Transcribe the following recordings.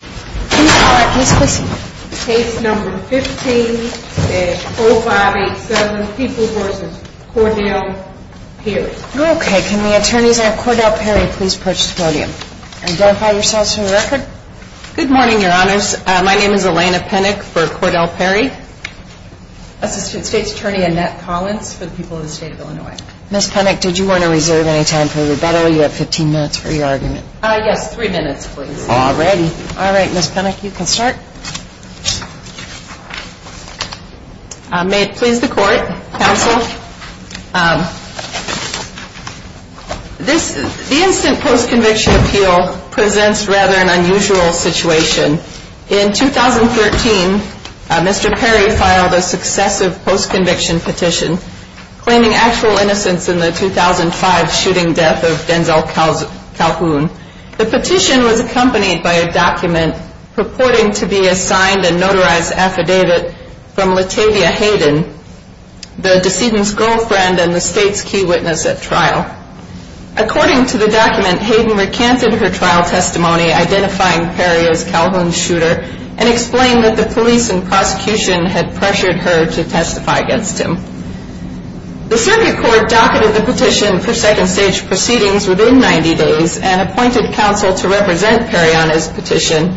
Can the attorneys at Cordell Perry please approach the podium and verify yourselves for the record? Good morning, your honors. My name is Elena Penick for Cordell Perry. Assistant State's Attorney Annette Collins for the people of the state of Illinois. Ms. Penick, did you want to reserve any time for rebuttal? You have 15 minutes for your argument. Yes, three minutes, please. All right, Ms. Penick, you can start. May it please the court, counsel. The instant post-conviction appeal presents rather an unusual situation. In 2013, Mr. Perry filed a successive post-conviction petition claiming actual innocence in the 2005 shooting death of Denzel Calhoun. The petition was accompanied by a document purporting to be a signed and notarized affidavit from Latavia Hayden, the decedent's girlfriend and the state's key witness at trial. According to the document, Hayden recanted her trial testimony identifying Perry as Calhoun's shooter and explained that the police and prosecution had pressured her to testify against him. The circuit court docketed the petition for second stage proceedings within 90 days and appointed counsel to represent Perry on his petition.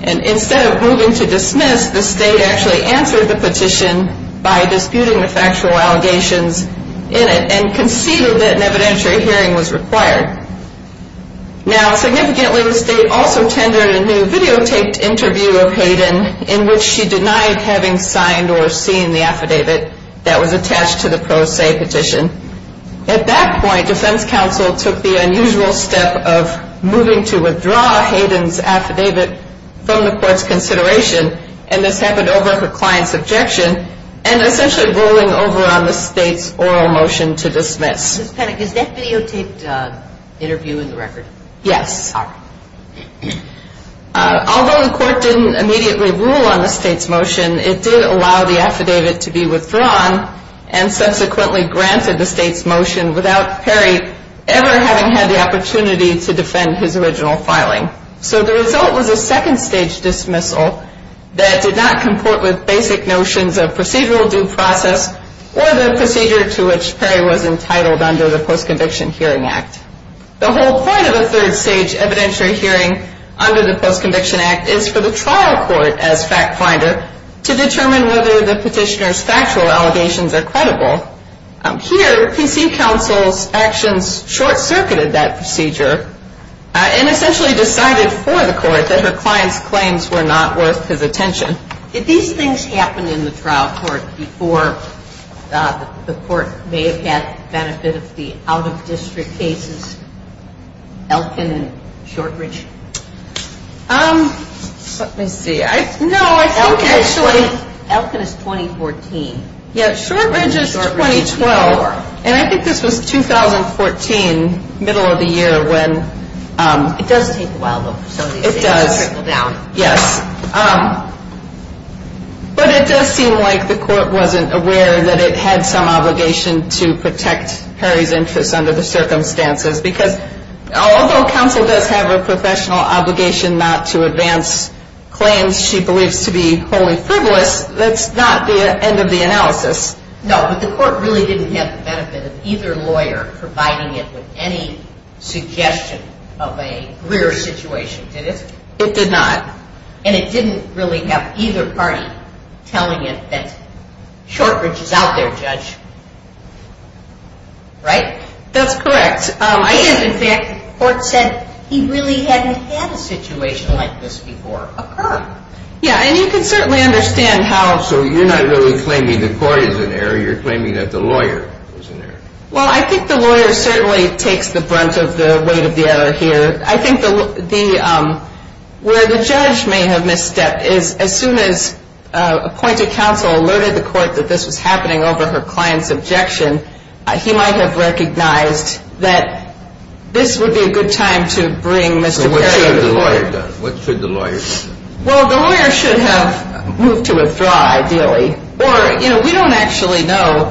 And instead of moving to dismiss, the state actually answered the petition by disputing the factual allegations in it and conceded that an evidentiary hearing was required. Now, significantly, the state also tendered a new videotaped interview of Hayden in which she denied having signed or seen the affidavit that was attached to the pro se petition. At that point, defense counsel took the unusual step of moving to withdraw Hayden's affidavit from the court's consideration and this happened over her client's objection and essentially rolling over on the state's oral motion to dismiss. Ms. Penick, is that videotaped interview in the record? Yes. All right. Although the court didn't immediately rule on the state's motion, it did allow the affidavit to be withdrawn and subsequently granted the state's motion without Perry ever having had the opportunity to defend his original filing. So the result was a second stage dismissal that did not comport with basic notions of procedural due process or the procedure to which Perry was entitled under the Post-Conviction Hearing Act. The whole point of a third stage evidentiary hearing under the Post-Conviction Act is for the trial court as fact finder to determine whether the petitioner's factual allegations are credible. Here, PC counsel's actions short-circuited that procedure and essentially decided for the court that her client's claims were not worth his attention. Did these things happen in the trial court before the court may have had benefit of the out-of-district cases, Elkin and Shortridge? Let me see. No, I think actually. Elkin is 2014. Yeah, Shortridge is 2012. And I think this was 2014, middle of the year when. It does take a while, though, for some of these things to trickle down. Yes. But it does seem like the court wasn't aware that it had some obligation to protect Perry's interests under the circumstances because although counsel does have a professional obligation not to advance claims she believes to be wholly frivolous, that's not the end of the analysis. No, but the court really didn't have the benefit of either lawyer providing it with any suggestion of a greer situation, did it? It did not. And it didn't really have either party telling it that Shortridge is out there, Judge. Right? That's correct. And, in fact, the court said he really hadn't had a situation like this before occur. Yeah, and you can certainly understand how. So you're not really claiming the court is in error, you're claiming that the lawyer is in error. Well, I think the lawyer certainly takes the brunt of the weight of the error here. I think where the judge may have misstepped is as soon as appointed counsel alerted the court that this was happening over her client's objection, he might have recognized that this would be a good time to bring Mr. Perry to court. So what should the lawyer have done? What should the lawyer have done? Well, the lawyer should have moved to withdraw, ideally. Or, you know, we don't actually know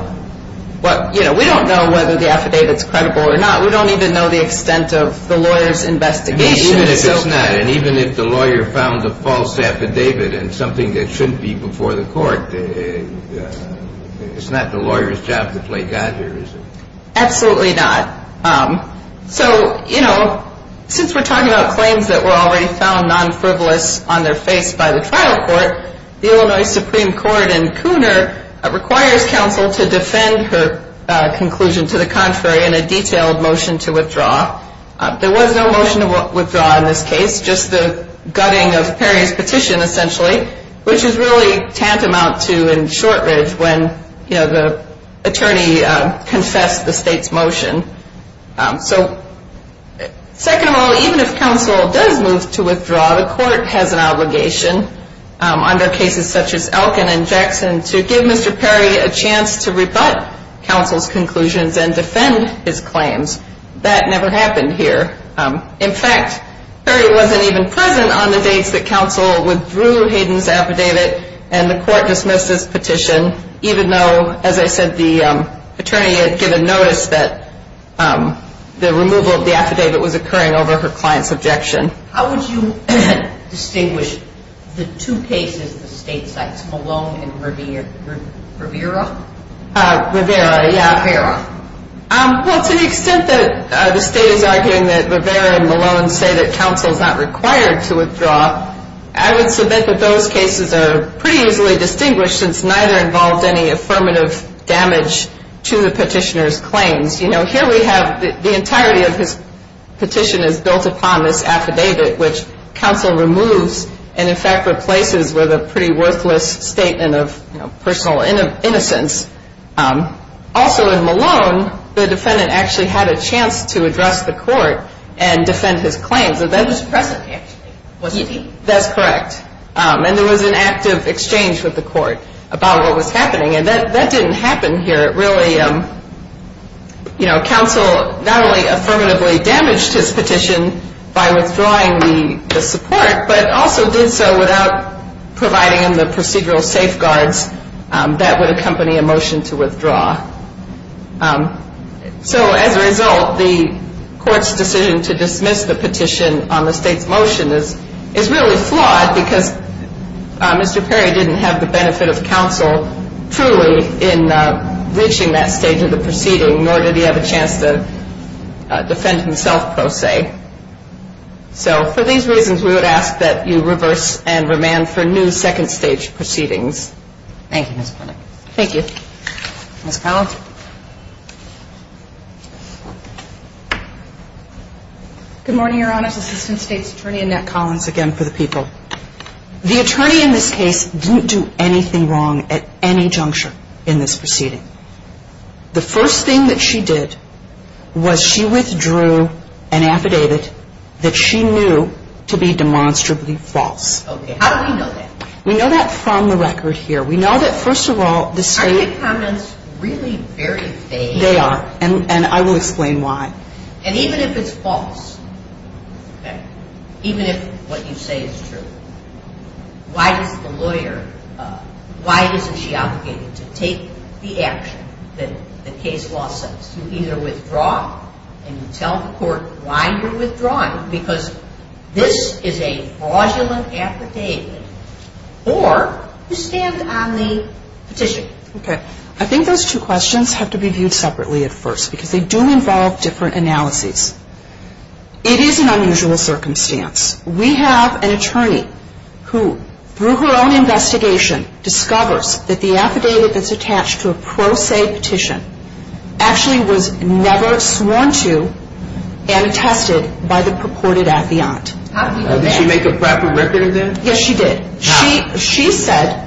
what, you know, we don't know whether the affidavit's credible or not. We don't even know the extent of the lawyer's investigation. Even if it's not, and even if the lawyer found a false affidavit and something that shouldn't be before the court, it's not the lawyer's job to play God here, is it? Absolutely not. So, you know, since we're talking about claims that were already found non-frivolous on their face by the trial court, the Illinois Supreme Court in Cooner requires counsel to defend her conclusion to the contrary in a detailed motion to withdraw. There was no motion to withdraw in this case, just the gutting of Perry's petition, essentially, which is really tantamount to in Shortridge when, you know, the attorney confessed the state's motion. So, second of all, even if counsel does move to withdraw, the court has an obligation under cases such as Elkin and Jackson to give Mr. Perry a chance to rebut counsel's conclusions and defend his claims. That never happened here. In fact, Perry wasn't even present on the dates that counsel withdrew Hayden's affidavit, and the court dismissed his petition even though, as I said, the attorney had given notice that the removal of the affidavit was occurring over her client's objection. How would you distinguish the two cases the state cites, Malone and Rivera? Rivera, yeah. Rivera. Well, to the extent that the state is arguing that Rivera and Malone say that counsel is not required to withdraw, I would submit that those cases are pretty easily distinguished since neither involved any affirmative damage to the petitioner's claims. You know, here we have the entirety of his petition is built upon this affidavit, which counsel removes and, in fact, replaces with a pretty worthless statement of personal innocence. Also, in Malone, the defendant actually had a chance to address the court and defend his claims. That was present, actually, wasn't he? That's correct. And there was an active exchange with the court about what was happening. And that didn't happen here. Really, you know, counsel not only affirmatively damaged his petition by withdrawing the support, but also did so without providing him the procedural safeguards that would accompany a motion to withdraw. So as a result, the court's decision to dismiss the petition on the state's motion is really flawed because Mr. Perry didn't have the benefit of counsel truly in reaching that stage of the proceeding, nor did he have a chance to defend himself, per se. So for these reasons, we would ask that you reverse and remand for new second-stage proceedings. Thank you, Ms. Plunkett. Thank you. Ms. Collins. Good morning, Your Honors. Assistant State's Attorney Annette Collins again for the people. The attorney in this case didn't do anything wrong at any juncture in this proceeding. The first thing that she did was she withdrew an affidavit that she knew to be demonstrably false. Okay. How do we know that? We know that from the record here. We know that, first of all, the state… Are your comments really very vague? They are, and I will explain why. And even if it's false, okay, even if what you say is true, why is the lawyer – why isn't she obligated to take the action that the case law says? You either withdraw it and you tell the court why you're withdrawing, because this is a fraudulent affidavit, or you stand on the petition. Okay. I think those two questions have to be viewed separately at first because they do involve different analyses. It is an unusual circumstance. We have an attorney who, through her own investigation, discovers that the affidavit that's attached to a pro se petition actually was never sworn to and attested by the purported affiant. Did she make a proper record of that? Yes, she did. How? She said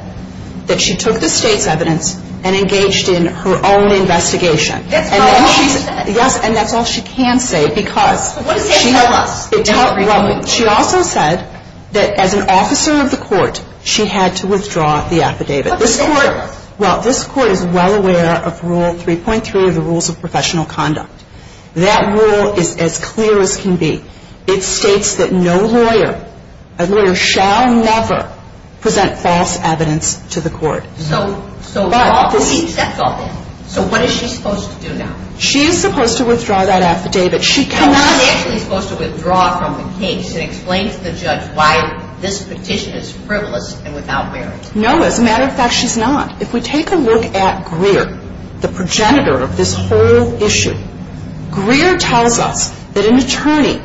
that she took the state's evidence and engaged in her own investigation. That's all she said? Yes, and that's all she can say because… What does that tell us? Well, she also said that as an officer of the court, she had to withdraw the affidavit. What does that tell us? Well, this court is well aware of Rule 3.3 of the Rules of Professional Conduct. That rule is as clear as can be. It states that no lawyer, a lawyer shall never present false evidence to the court. So we accept all this. So what is she supposed to do now? She is supposed to withdraw that affidavit. No, she's actually supposed to withdraw from the case and explain to the judge why this petition is frivolous and without merit. No, as a matter of fact, she's not. If we take a look at Greer, the progenitor of this whole issue, Greer tells us that an attorney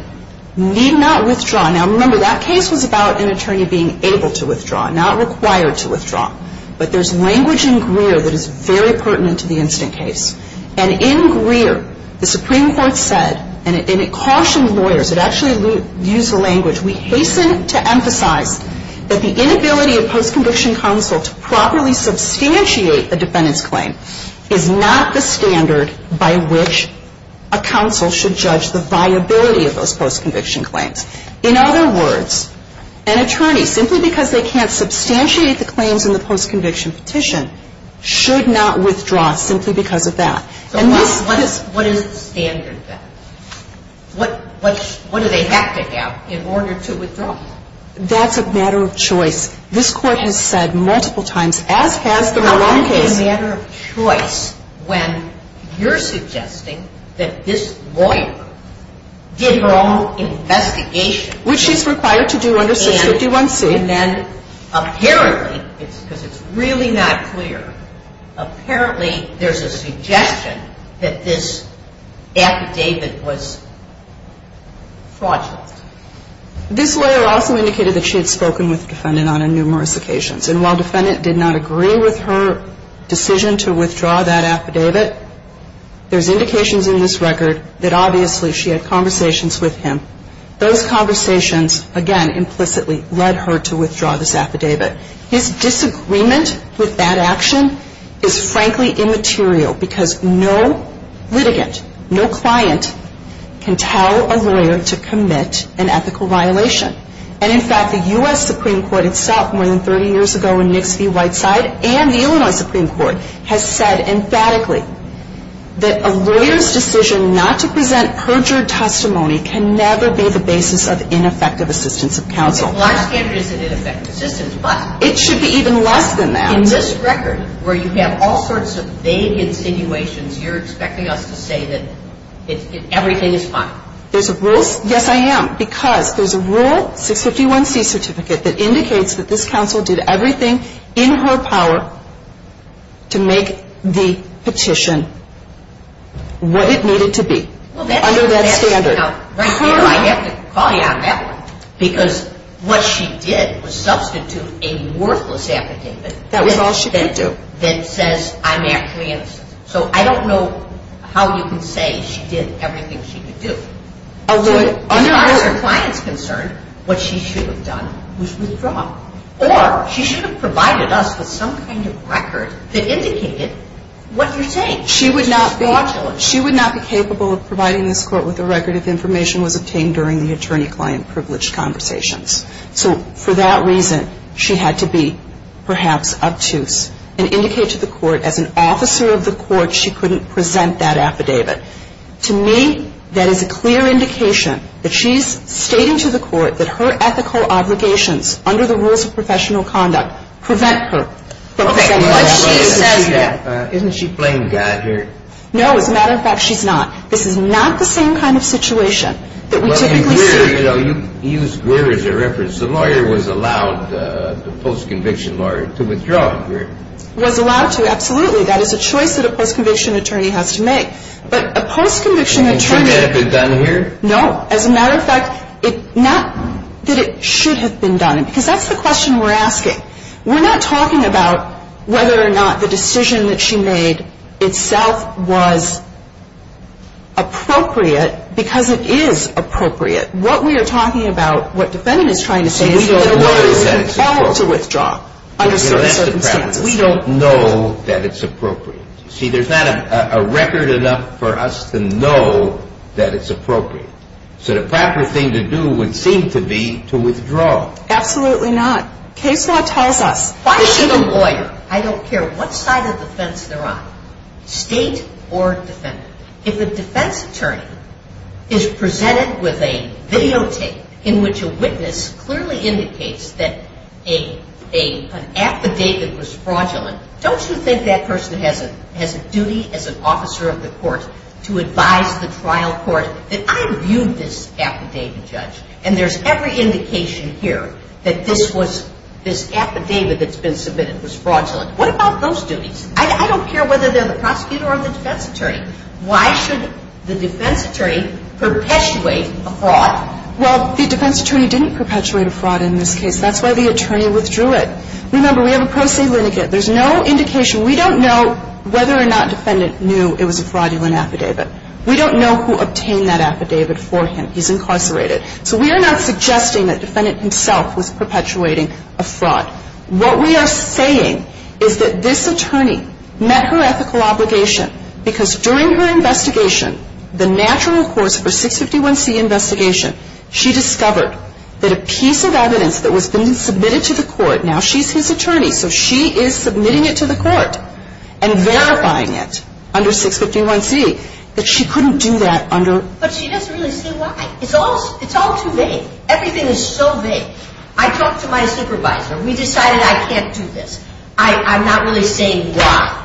need not withdraw. Now, remember, that case was about an attorney being able to withdraw, not required to withdraw. But there's language in Greer that is very pertinent to the instant case. And in Greer, the Supreme Court said, and it cautioned lawyers, it actually used the language, we hasten to emphasize that the inability of post-conviction counsel to properly substantiate a defendant's claim is not the standard by which a counsel should judge the viability of those post-conviction claims. In other words, an attorney, simply because they can't substantiate the claims in the post-conviction petition, should not withdraw simply because of that. So what is the standard then? What do they have to have in order to withdraw? That's a matter of choice. This Court has said multiple times, as has the Malone case. How can it be a matter of choice when you're suggesting that this lawyer did her own investigation? Which she's required to do under Section 51C. And then apparently, because it's really not clear, apparently there's a suggestion that this affidavit was fraudulent. This lawyer also indicated that she had spoken with the defendant on numerous occasions. And while the defendant did not agree with her decision to withdraw that affidavit, there's indications in this record that obviously she had conversations with him. Those conversations, again, implicitly led her to withdraw this affidavit. His disagreement with that action is, frankly, immaterial. Because no litigant, no client, can tell a lawyer to commit an ethical violation. And in fact, the U.S. Supreme Court itself, more than 30 years ago, when Nix v. Whiteside, and the Illinois Supreme Court, has said emphatically that a lawyer's decision not to present perjured testimony can never be the basis of ineffective assistance of counsel. It should be even less than that. In this record, where you have all sorts of vague insinuations, you're expecting us to say that everything is fine? Yes, I am. Because there's a rule, 651C certificate, that indicates that this counsel did everything in her power to make the petition what it needed to be under that standard. Now, right here, I have to call you out on that one. Because what she did was substitute a worthless affidavit. That was all she could do. That says I'm actually innocent. So I don't know how you can say she did everything she could do. Although, under our client's concern, what she should have done was withdraw. Or she should have provided us with some kind of record that indicated what you're saying. She would not be capable of providing this court with a record if information was obtained during the attorney-client privileged conversations. So for that reason, she had to be perhaps obtuse and indicate to the court as an officer of the court she couldn't present that affidavit. To me, that is a clear indication that she's stating to the court that her ethical obligations under the rules of professional conduct prevent her from presenting that affidavit. Isn't she playing God here? No, as a matter of fact, she's not. This is not the same kind of situation that we typically see. You used Greer as a reference. The lawyer was allowed, the post-conviction lawyer, to withdraw from Greer. Was allowed to, absolutely. That is a choice that a post-conviction attorney has to make. But a post-conviction attorney... And shouldn't it have been done here? No. As a matter of fact, not that it should have been done. Because that's the question we're asking. We're not talking about whether or not the decision that she made itself was appropriate, because it is appropriate. What we are talking about, what defendant is trying to say is... So we don't know that it's appropriate. ...that a lawyer is involved to withdraw under certain circumstances. We don't know that it's appropriate. See, there's not a record enough for us to know that it's appropriate. So the proper thing to do would seem to be to withdraw. Absolutely not. Case now tells us... Why should a lawyer, I don't care what side of defense they're on, state or defendant, if a defense attorney is presented with a videotape in which a witness clearly indicates that an affidavit was fraudulent, don't you think that person has a duty as an officer of the court to advise the trial court that I reviewed this affidavit, Judge, and there's every indication here that this affidavit that's been submitted was fraudulent. What about those duties? I don't care whether they're the prosecutor or the defense attorney. Why should the defense attorney perpetuate a fraud? Well, the defense attorney didn't perpetuate a fraud in this case. That's why the attorney withdrew it. Remember, we have a pro se lineage. There's no indication. We don't know whether or not defendant knew it was a fraudulent affidavit. We don't know who obtained that affidavit for him. He's incarcerated. So we are not suggesting that defendant himself was perpetuating a fraud. What we are saying is that this attorney met her ethical obligation, because during her investigation, the natural course for 651C investigation, she discovered that a piece of evidence that was submitted to the court, now she's his attorney, so she is submitting it to the court and verifying it under 651C, that she couldn't do that under... It's all too vague. Everything is so vague. I talked to my supervisor. We decided I can't do this. I'm not really saying why.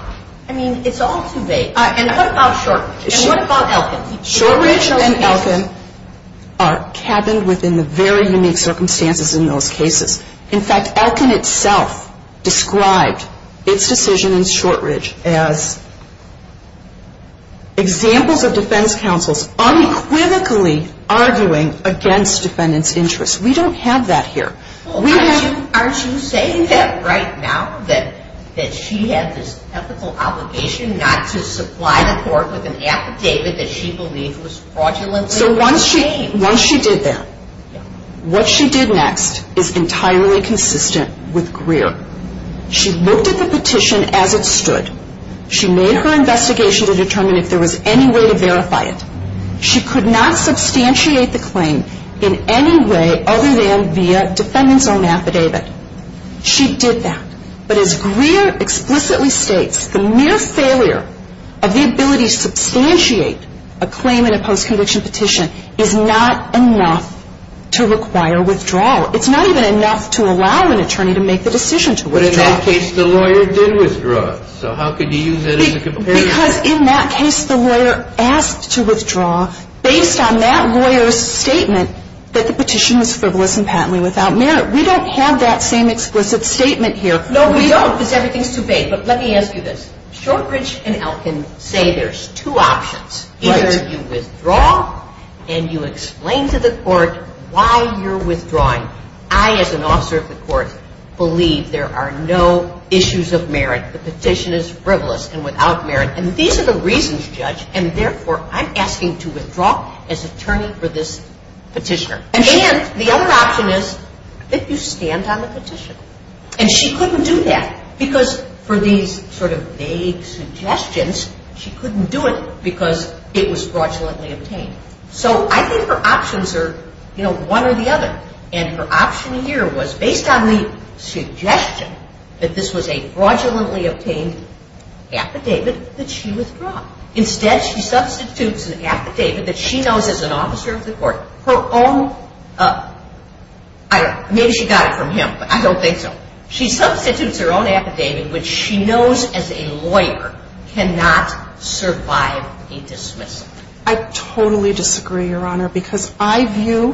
I mean, it's all too vague. And what about Shortridge? And what about Elkin? Shortridge and Elkin are cabined within the very unique circumstances in those cases. In fact, Elkin itself described its decision in Shortridge as examples of defense counsels unequivocally arguing against defendants' interests. We don't have that here. Aren't you saying that right now, that she had this ethical obligation not to supply the court with an affidavit that she believed was fraudulently obtained? So once she did that, what she did next is entirely consistent with Greer. She looked at the petition as it stood. She made her investigation to determine if there was any way to verify it. She could not substantiate the claim in any way other than via defendant's own affidavit. She did that. But as Greer explicitly states, the mere failure of the ability to substantiate a claim in a post-conviction petition is not enough to require withdrawal. It's not even enough to allow an attorney to make the decision to withdraw. But in that case, the lawyer did withdraw. So how could you use that as a comparison? Because in that case, the lawyer asked to withdraw based on that lawyer's statement that the petition was frivolous and patently without merit. We don't have that same explicit statement here. No, we don't, because everything is too vague. But let me ask you this. Shortridge and Elkin say there's two options. Either you withdraw and you explain to the court why you're withdrawing. I, as an officer of the court, believe there are no issues of merit. The petition is frivolous and without merit. And these are the reasons, Judge. And therefore, I'm asking to withdraw as attorney for this petitioner. And the other option is that you stand on the petition. And she couldn't do that because for these sort of vague suggestions, she couldn't do it because it was fraudulently obtained. So I think her options are one or the other. And her option here was based on the suggestion that this was a fraudulently obtained affidavit, that she withdraw. Instead, she substitutes an affidavit that she knows as an officer of the court. Her own, I don't know, maybe she got it from him, but I don't think so. She substitutes her own affidavit, which she knows as a lawyer, cannot survive a dismissal. I totally disagree, Your Honor, because I view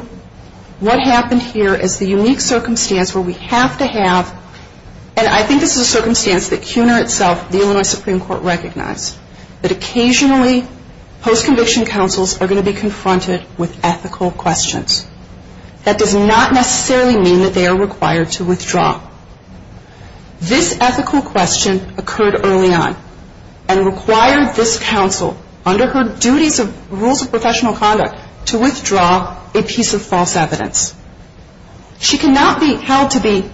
what happened here as the unique circumstance where we have to have, and I think this is a circumstance that CUNA itself, the Illinois Supreme Court, recognized that occasionally post-conviction counsels are going to be confronted with ethical questions. That does not necessarily mean that they are required to withdraw. This ethical question occurred early on and required this counsel under her duties of rules of professional conduct to withdraw a piece of false evidence. She cannot be held to be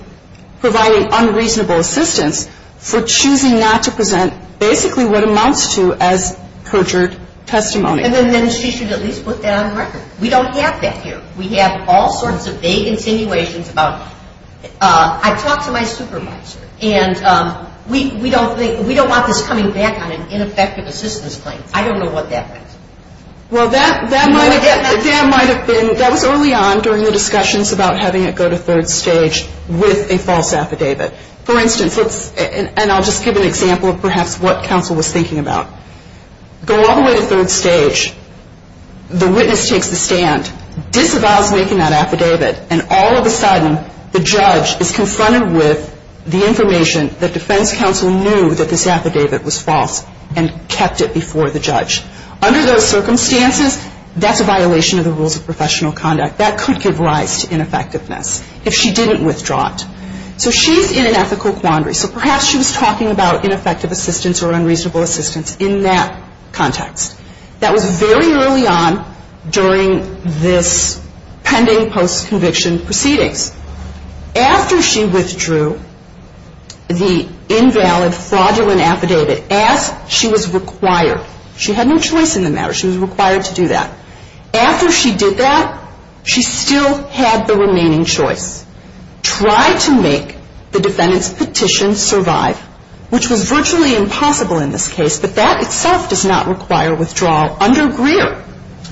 providing unreasonable assistance for choosing not to present basically what amounts to as perjured testimony. And then she should at least put that on record. We don't have that here. We have all sorts of vague insinuations about I talked to my supervisor and we don't want this coming back on an ineffective assistance claim. I don't know what that means. Well, that might have been, that was early on during the discussions about having it go to third stage with a false affidavit. For instance, and I'll just give an example of perhaps what counsel was thinking about. Go all the way to third stage. The witness takes the stand, disavows making that affidavit, and all of a sudden the judge is confronted with the information that defense counsel knew that this affidavit was false and kept it before the judge. Under those circumstances, that's a violation of the rules of professional conduct. That could give rise to ineffectiveness if she didn't withdraw it. So she's in an ethical quandary. So perhaps she was talking about ineffective assistance or unreasonable assistance in that context. That was very early on during this pending post-conviction proceedings. After she withdrew the invalid fraudulent affidavit, as she was required, she had no choice in the matter, she was required to do that. After she did that, she still had the remaining choice. Try to make the defendant's petition survive, which was virtually impossible in this case, but that itself does not require withdrawal under Greer.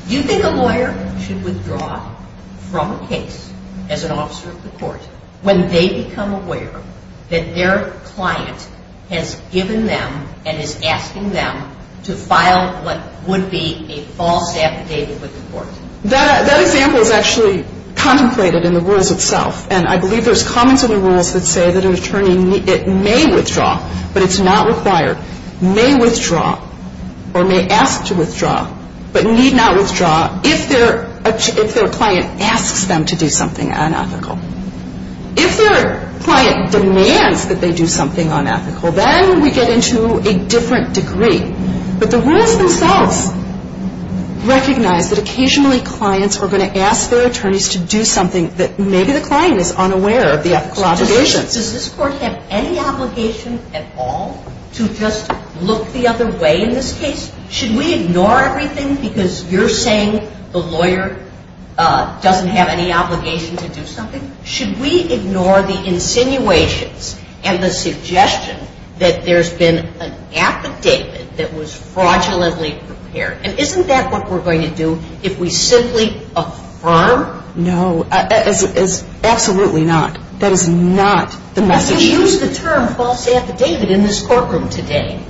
Do you think a lawyer should withdraw from a case as an officer of the court when they become aware that their client has given them and is asking them to file what would be a false affidavit with the court? That example is actually contemplated in the rules itself. And I believe there's comments in the rules that say that an attorney may withdraw, but it's not required, may withdraw or may ask to withdraw, but need not withdraw if their client asks them to do something unethical. If their client demands that they do something unethical, then we get into a different degree. But the rules themselves recognize that occasionally clients are going to ask their attorneys to do something that maybe the client is unaware of the ethical obligations. Does this court have any obligation at all to just look the other way in this case? Should we ignore everything because you're saying the lawyer doesn't have any obligation to do something? Should we ignore the insinuations and the suggestion that there's been an affidavit that was fraudulently prepared? And isn't that what we're going to do if we simply affirm? No, absolutely not. That is not the message. But you used the term false affidavit in this courtroom today.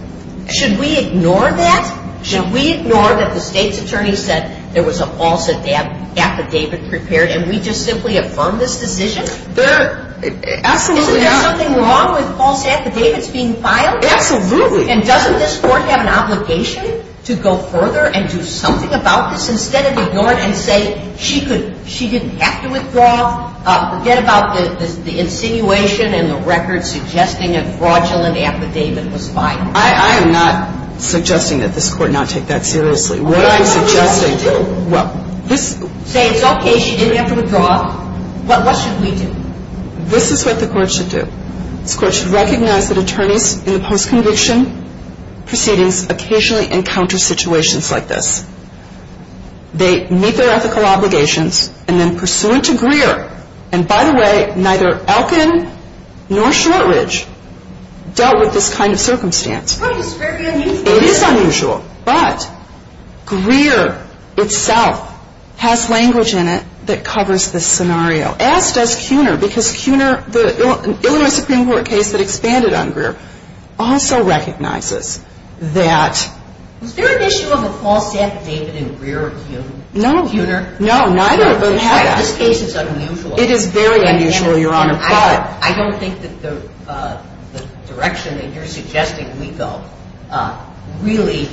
Should we ignore that? Should we ignore that the state's attorney said there was a false affidavit prepared and we just simply affirm this decision? Absolutely not. Isn't there something wrong with false affidavits being filed? Absolutely. And doesn't this court have an obligation to go further and do something about this instead of ignoring it and say she didn't have to withdraw? Forget about the insinuation and the record suggesting a fraudulent affidavit was filed. I am not suggesting that this court not take that seriously. What I'm suggesting to you. Say it's okay, she didn't have to withdraw. What should we do? This is what the court should do. This court should recognize that attorneys in the post-conviction proceedings occasionally encounter situations like this. They meet their ethical obligations and then pursuant to Greer, and by the way, neither Elkin nor Shortridge dealt with this kind of circumstance. It's very unusual. It is unusual. But Greer itself has language in it that covers this scenario, as does Cuner, because Cuner, the Illinois Supreme Court case that expanded on Greer, also recognizes that. Was there an issue of a false affidavit in Greer or Cuner? No. Cuner? No, neither of those two. This case is unusual. It is very unusual, Your Honor, but. I don't think that the direction that you're suggesting we go really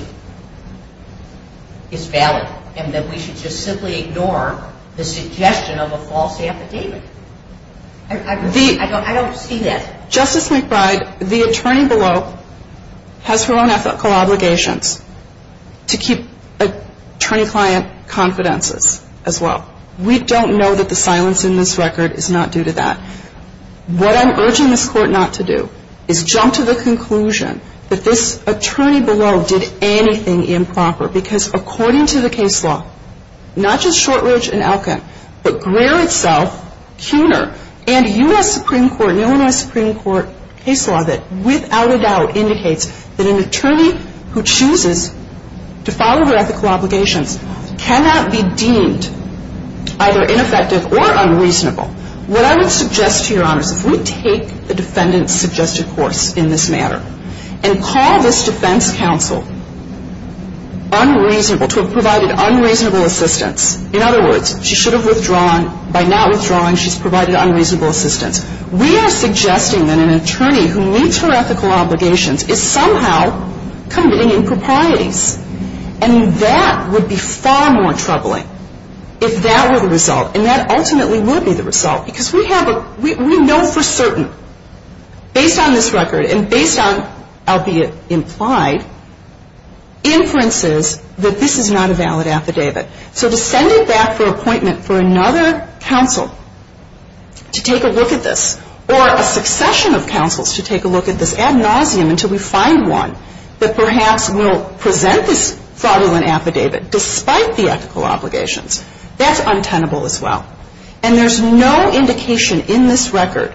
is valid and that we should just simply ignore the suggestion of a false affidavit. I don't see that. Justice McBride, the attorney below has her own ethical obligations to keep attorney-client confidences as well. We don't know that the silence in this record is not due to that. What I'm urging this court not to do is jump to the conclusion that this attorney below did anything improper because according to the case law, not just Shortridge and Elkin, but Greer itself, Cuner, and a U.S. Supreme Court, Illinois Supreme Court case law that without a doubt indicates that an attorney who chooses to follow their ethical obligations cannot be deemed either ineffective or unreasonable. What I would suggest to Your Honor is if we take the defendant's suggested course in this matter and call this defense counsel unreasonable, to have provided unreasonable assistance. In other words, she should have withdrawn. By not withdrawing, she's provided unreasonable assistance. We are suggesting that an attorney who meets her ethical obligations is somehow committing improprieties. And that would be far more troubling if that were the result, and that ultimately would be the result because we have a, we know for certain, based on this record and based on, albeit implied, inferences that this is not a valid affidavit. So to send it back for appointment for another counsel to take a look at this, or a succession of counsels to take a look at this ad nauseum until we find one that perhaps will present this fraudulent affidavit despite the ethical obligations, that's untenable as well. And there's no indication in this record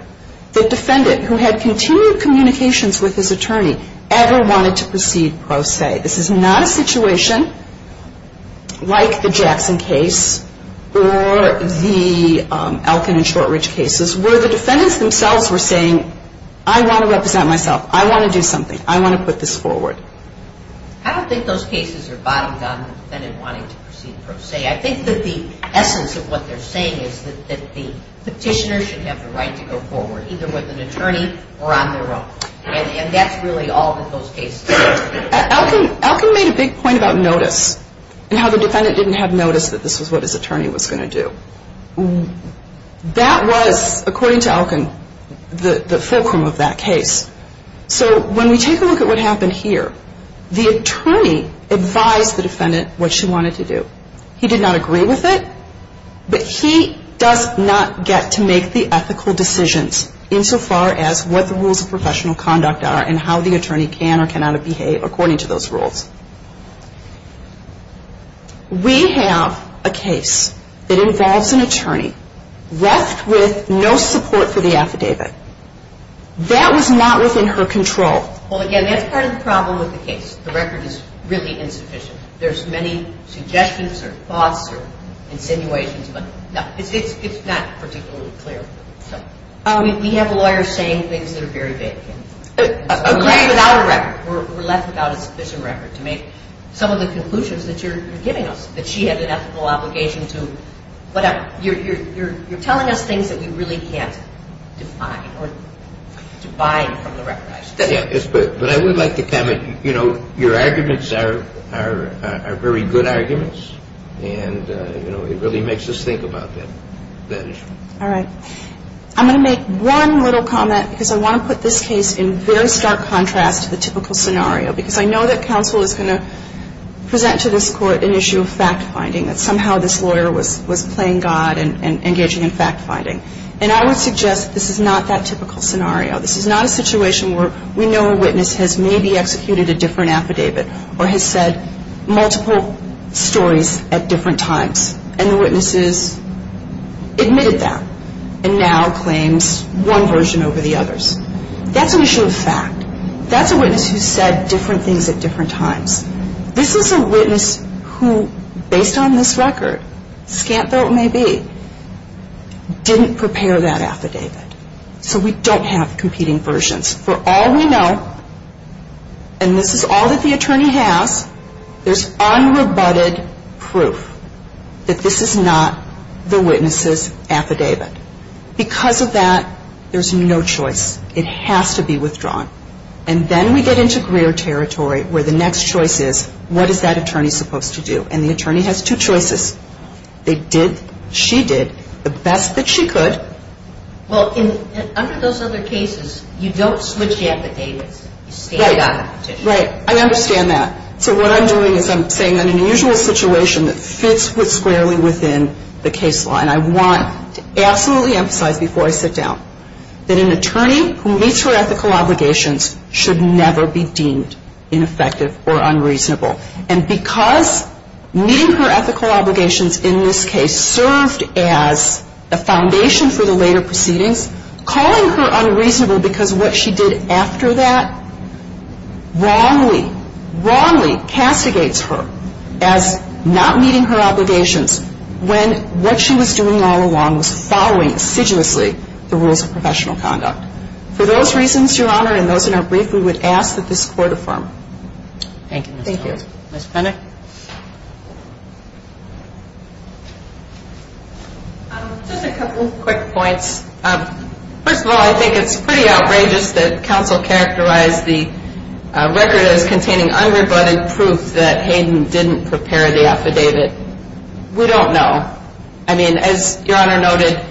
that defendant who had continued communications with his attorney ever wanted to proceed pro se. This is not a situation like the Jackson case or the Elkin and Shortridge cases where the defendants themselves were saying, I want to represent myself. I want to do something. I want to put this forward. I don't think those cases are bottom-down in the defendant wanting to proceed pro se. I think that the essence of what they're saying is that the petitioner should have the right to go forward either with an attorney or on their own. And that's really all that those cases are. Elkin made a big point about notice and how the defendant didn't have notice that this was what his attorney was going to do. That was, according to Elkin, the fulcrum of that case. So when we take a look at what happened here, the attorney advised the defendant what she wanted to do. He did not agree with it, but he does not get to make the ethical decisions insofar as what the rules of professional conduct are and how the attorney can or cannot behave according to those rules. We have a case that involves an attorney left with no support for the affidavit. That was not within her control. Well, again, that's part of the problem with the case. The record is really insufficient. There's many suggestions or thoughts or insinuations, but it's not particularly clear. We have lawyers saying things that are very vague. Agreed without a record. We're left without a sufficient record to make some of the conclusions that you're giving us, that she had an ethical obligation to whatever. You're telling us things that we really can't define or to bind from the record. But I would like to comment, you know, your arguments are very good arguments. And, you know, it really makes us think about that issue. All right. I'm going to make one little comment because I want to put this case in very stark contrast to the typical scenario because I know that counsel is going to present to this Court an issue of fact-finding, that somehow this lawyer was playing God and engaging in fact-finding. And I would suggest this is not that typical scenario. This is not a situation where we know a witness has maybe executed a different affidavit or has said multiple stories at different times. And the witness has admitted that and now claims one version over the others. That's an issue of fact. That's a witness who said different things at different times. This is a witness who, based on this record, scant though it may be, didn't prepare that affidavit. So we don't have competing versions. For all we know, and this is all that the attorney has, there's unrebutted proof that this is not the witness's affidavit. Because of that, there's no choice. It has to be withdrawn. And then we get into Greer territory where the next choice is, what is that attorney supposed to do? And the attorney has two choices. They did, she did, the best that she could. Well, under those other cases, you don't switch affidavits. You stand on a petition. Right. I understand that. So what I'm doing is I'm saying that an unusual situation that fits squarely within the case law, and I want to absolutely emphasize before I sit down, that an attorney who meets her ethical obligations should never be deemed ineffective or unreasonable. And because meeting her ethical obligations in this case served as the foundation for the later proceedings, calling her unreasonable because of what she did after that, wrongly, wrongly castigates her as not meeting her obligations when what she was doing all along was following assiduously the rules of professional conduct. For those reasons, Your Honor, and those in our brief, we would ask that this Court affirm. Thank you. Thank you. Ms. Penick. Just a couple quick points. First of all, I think it's pretty outrageous that counsel characterized the record as containing unrebutted proof that Hayden didn't prepare the affidavit. We don't know. I mean, as Your Honor noted,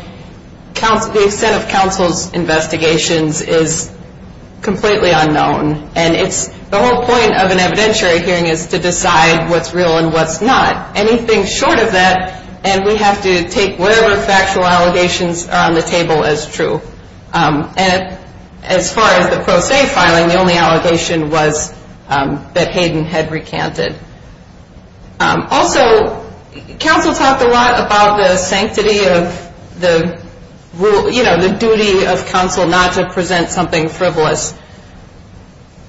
the extent of counsel's investigations is completely unknown. And the whole point of an evidentiary hearing is to decide what's real and what's not. Anything short of that, and we have to take whatever factual allegations are on the table as true. And as far as the pro se filing, the only allegation was that Hayden had recanted. Also, counsel talked a lot about the sanctity of the rule, you know, the duty of counsel not to present something frivolous.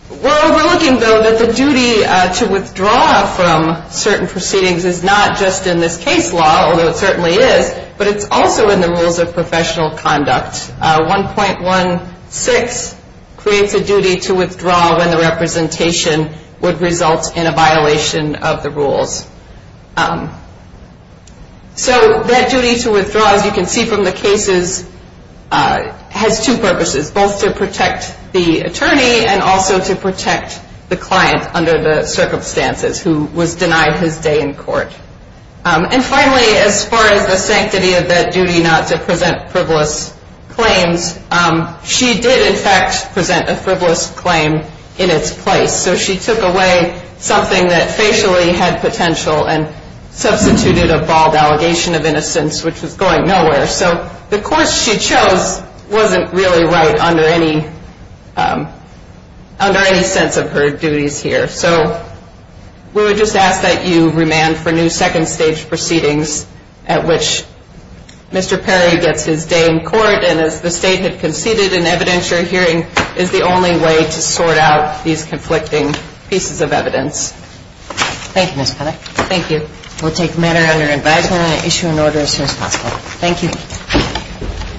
We're overlooking, though, that the duty to withdraw from certain proceedings is not just in this case law, although it certainly is, but it's also in the rules of professional conduct. 1.16 creates a duty to withdraw when the representation would result in a violation of the rules. So that duty to withdraw, as you can see from the cases, has two purposes, both to protect the attorney and also to protect the client under the circumstances, And finally, as far as the sanctity of that duty not to present frivolous claims, she did, in fact, present a frivolous claim in its place. So she took away something that facially had potential and substituted a bald allegation of innocence, which was going nowhere. So the course she chose wasn't really right under any sense of her duties here. So we would just ask that you remand for new second-stage proceedings at which Mr. Perry gets his day in court. And as the State had conceded, an evidentiary hearing is the only way to sort out these conflicting pieces of evidence. Thank you, Ms. Pelley. Thank you. We'll take matter under advisement and issue an order as soon as possible. Thank you.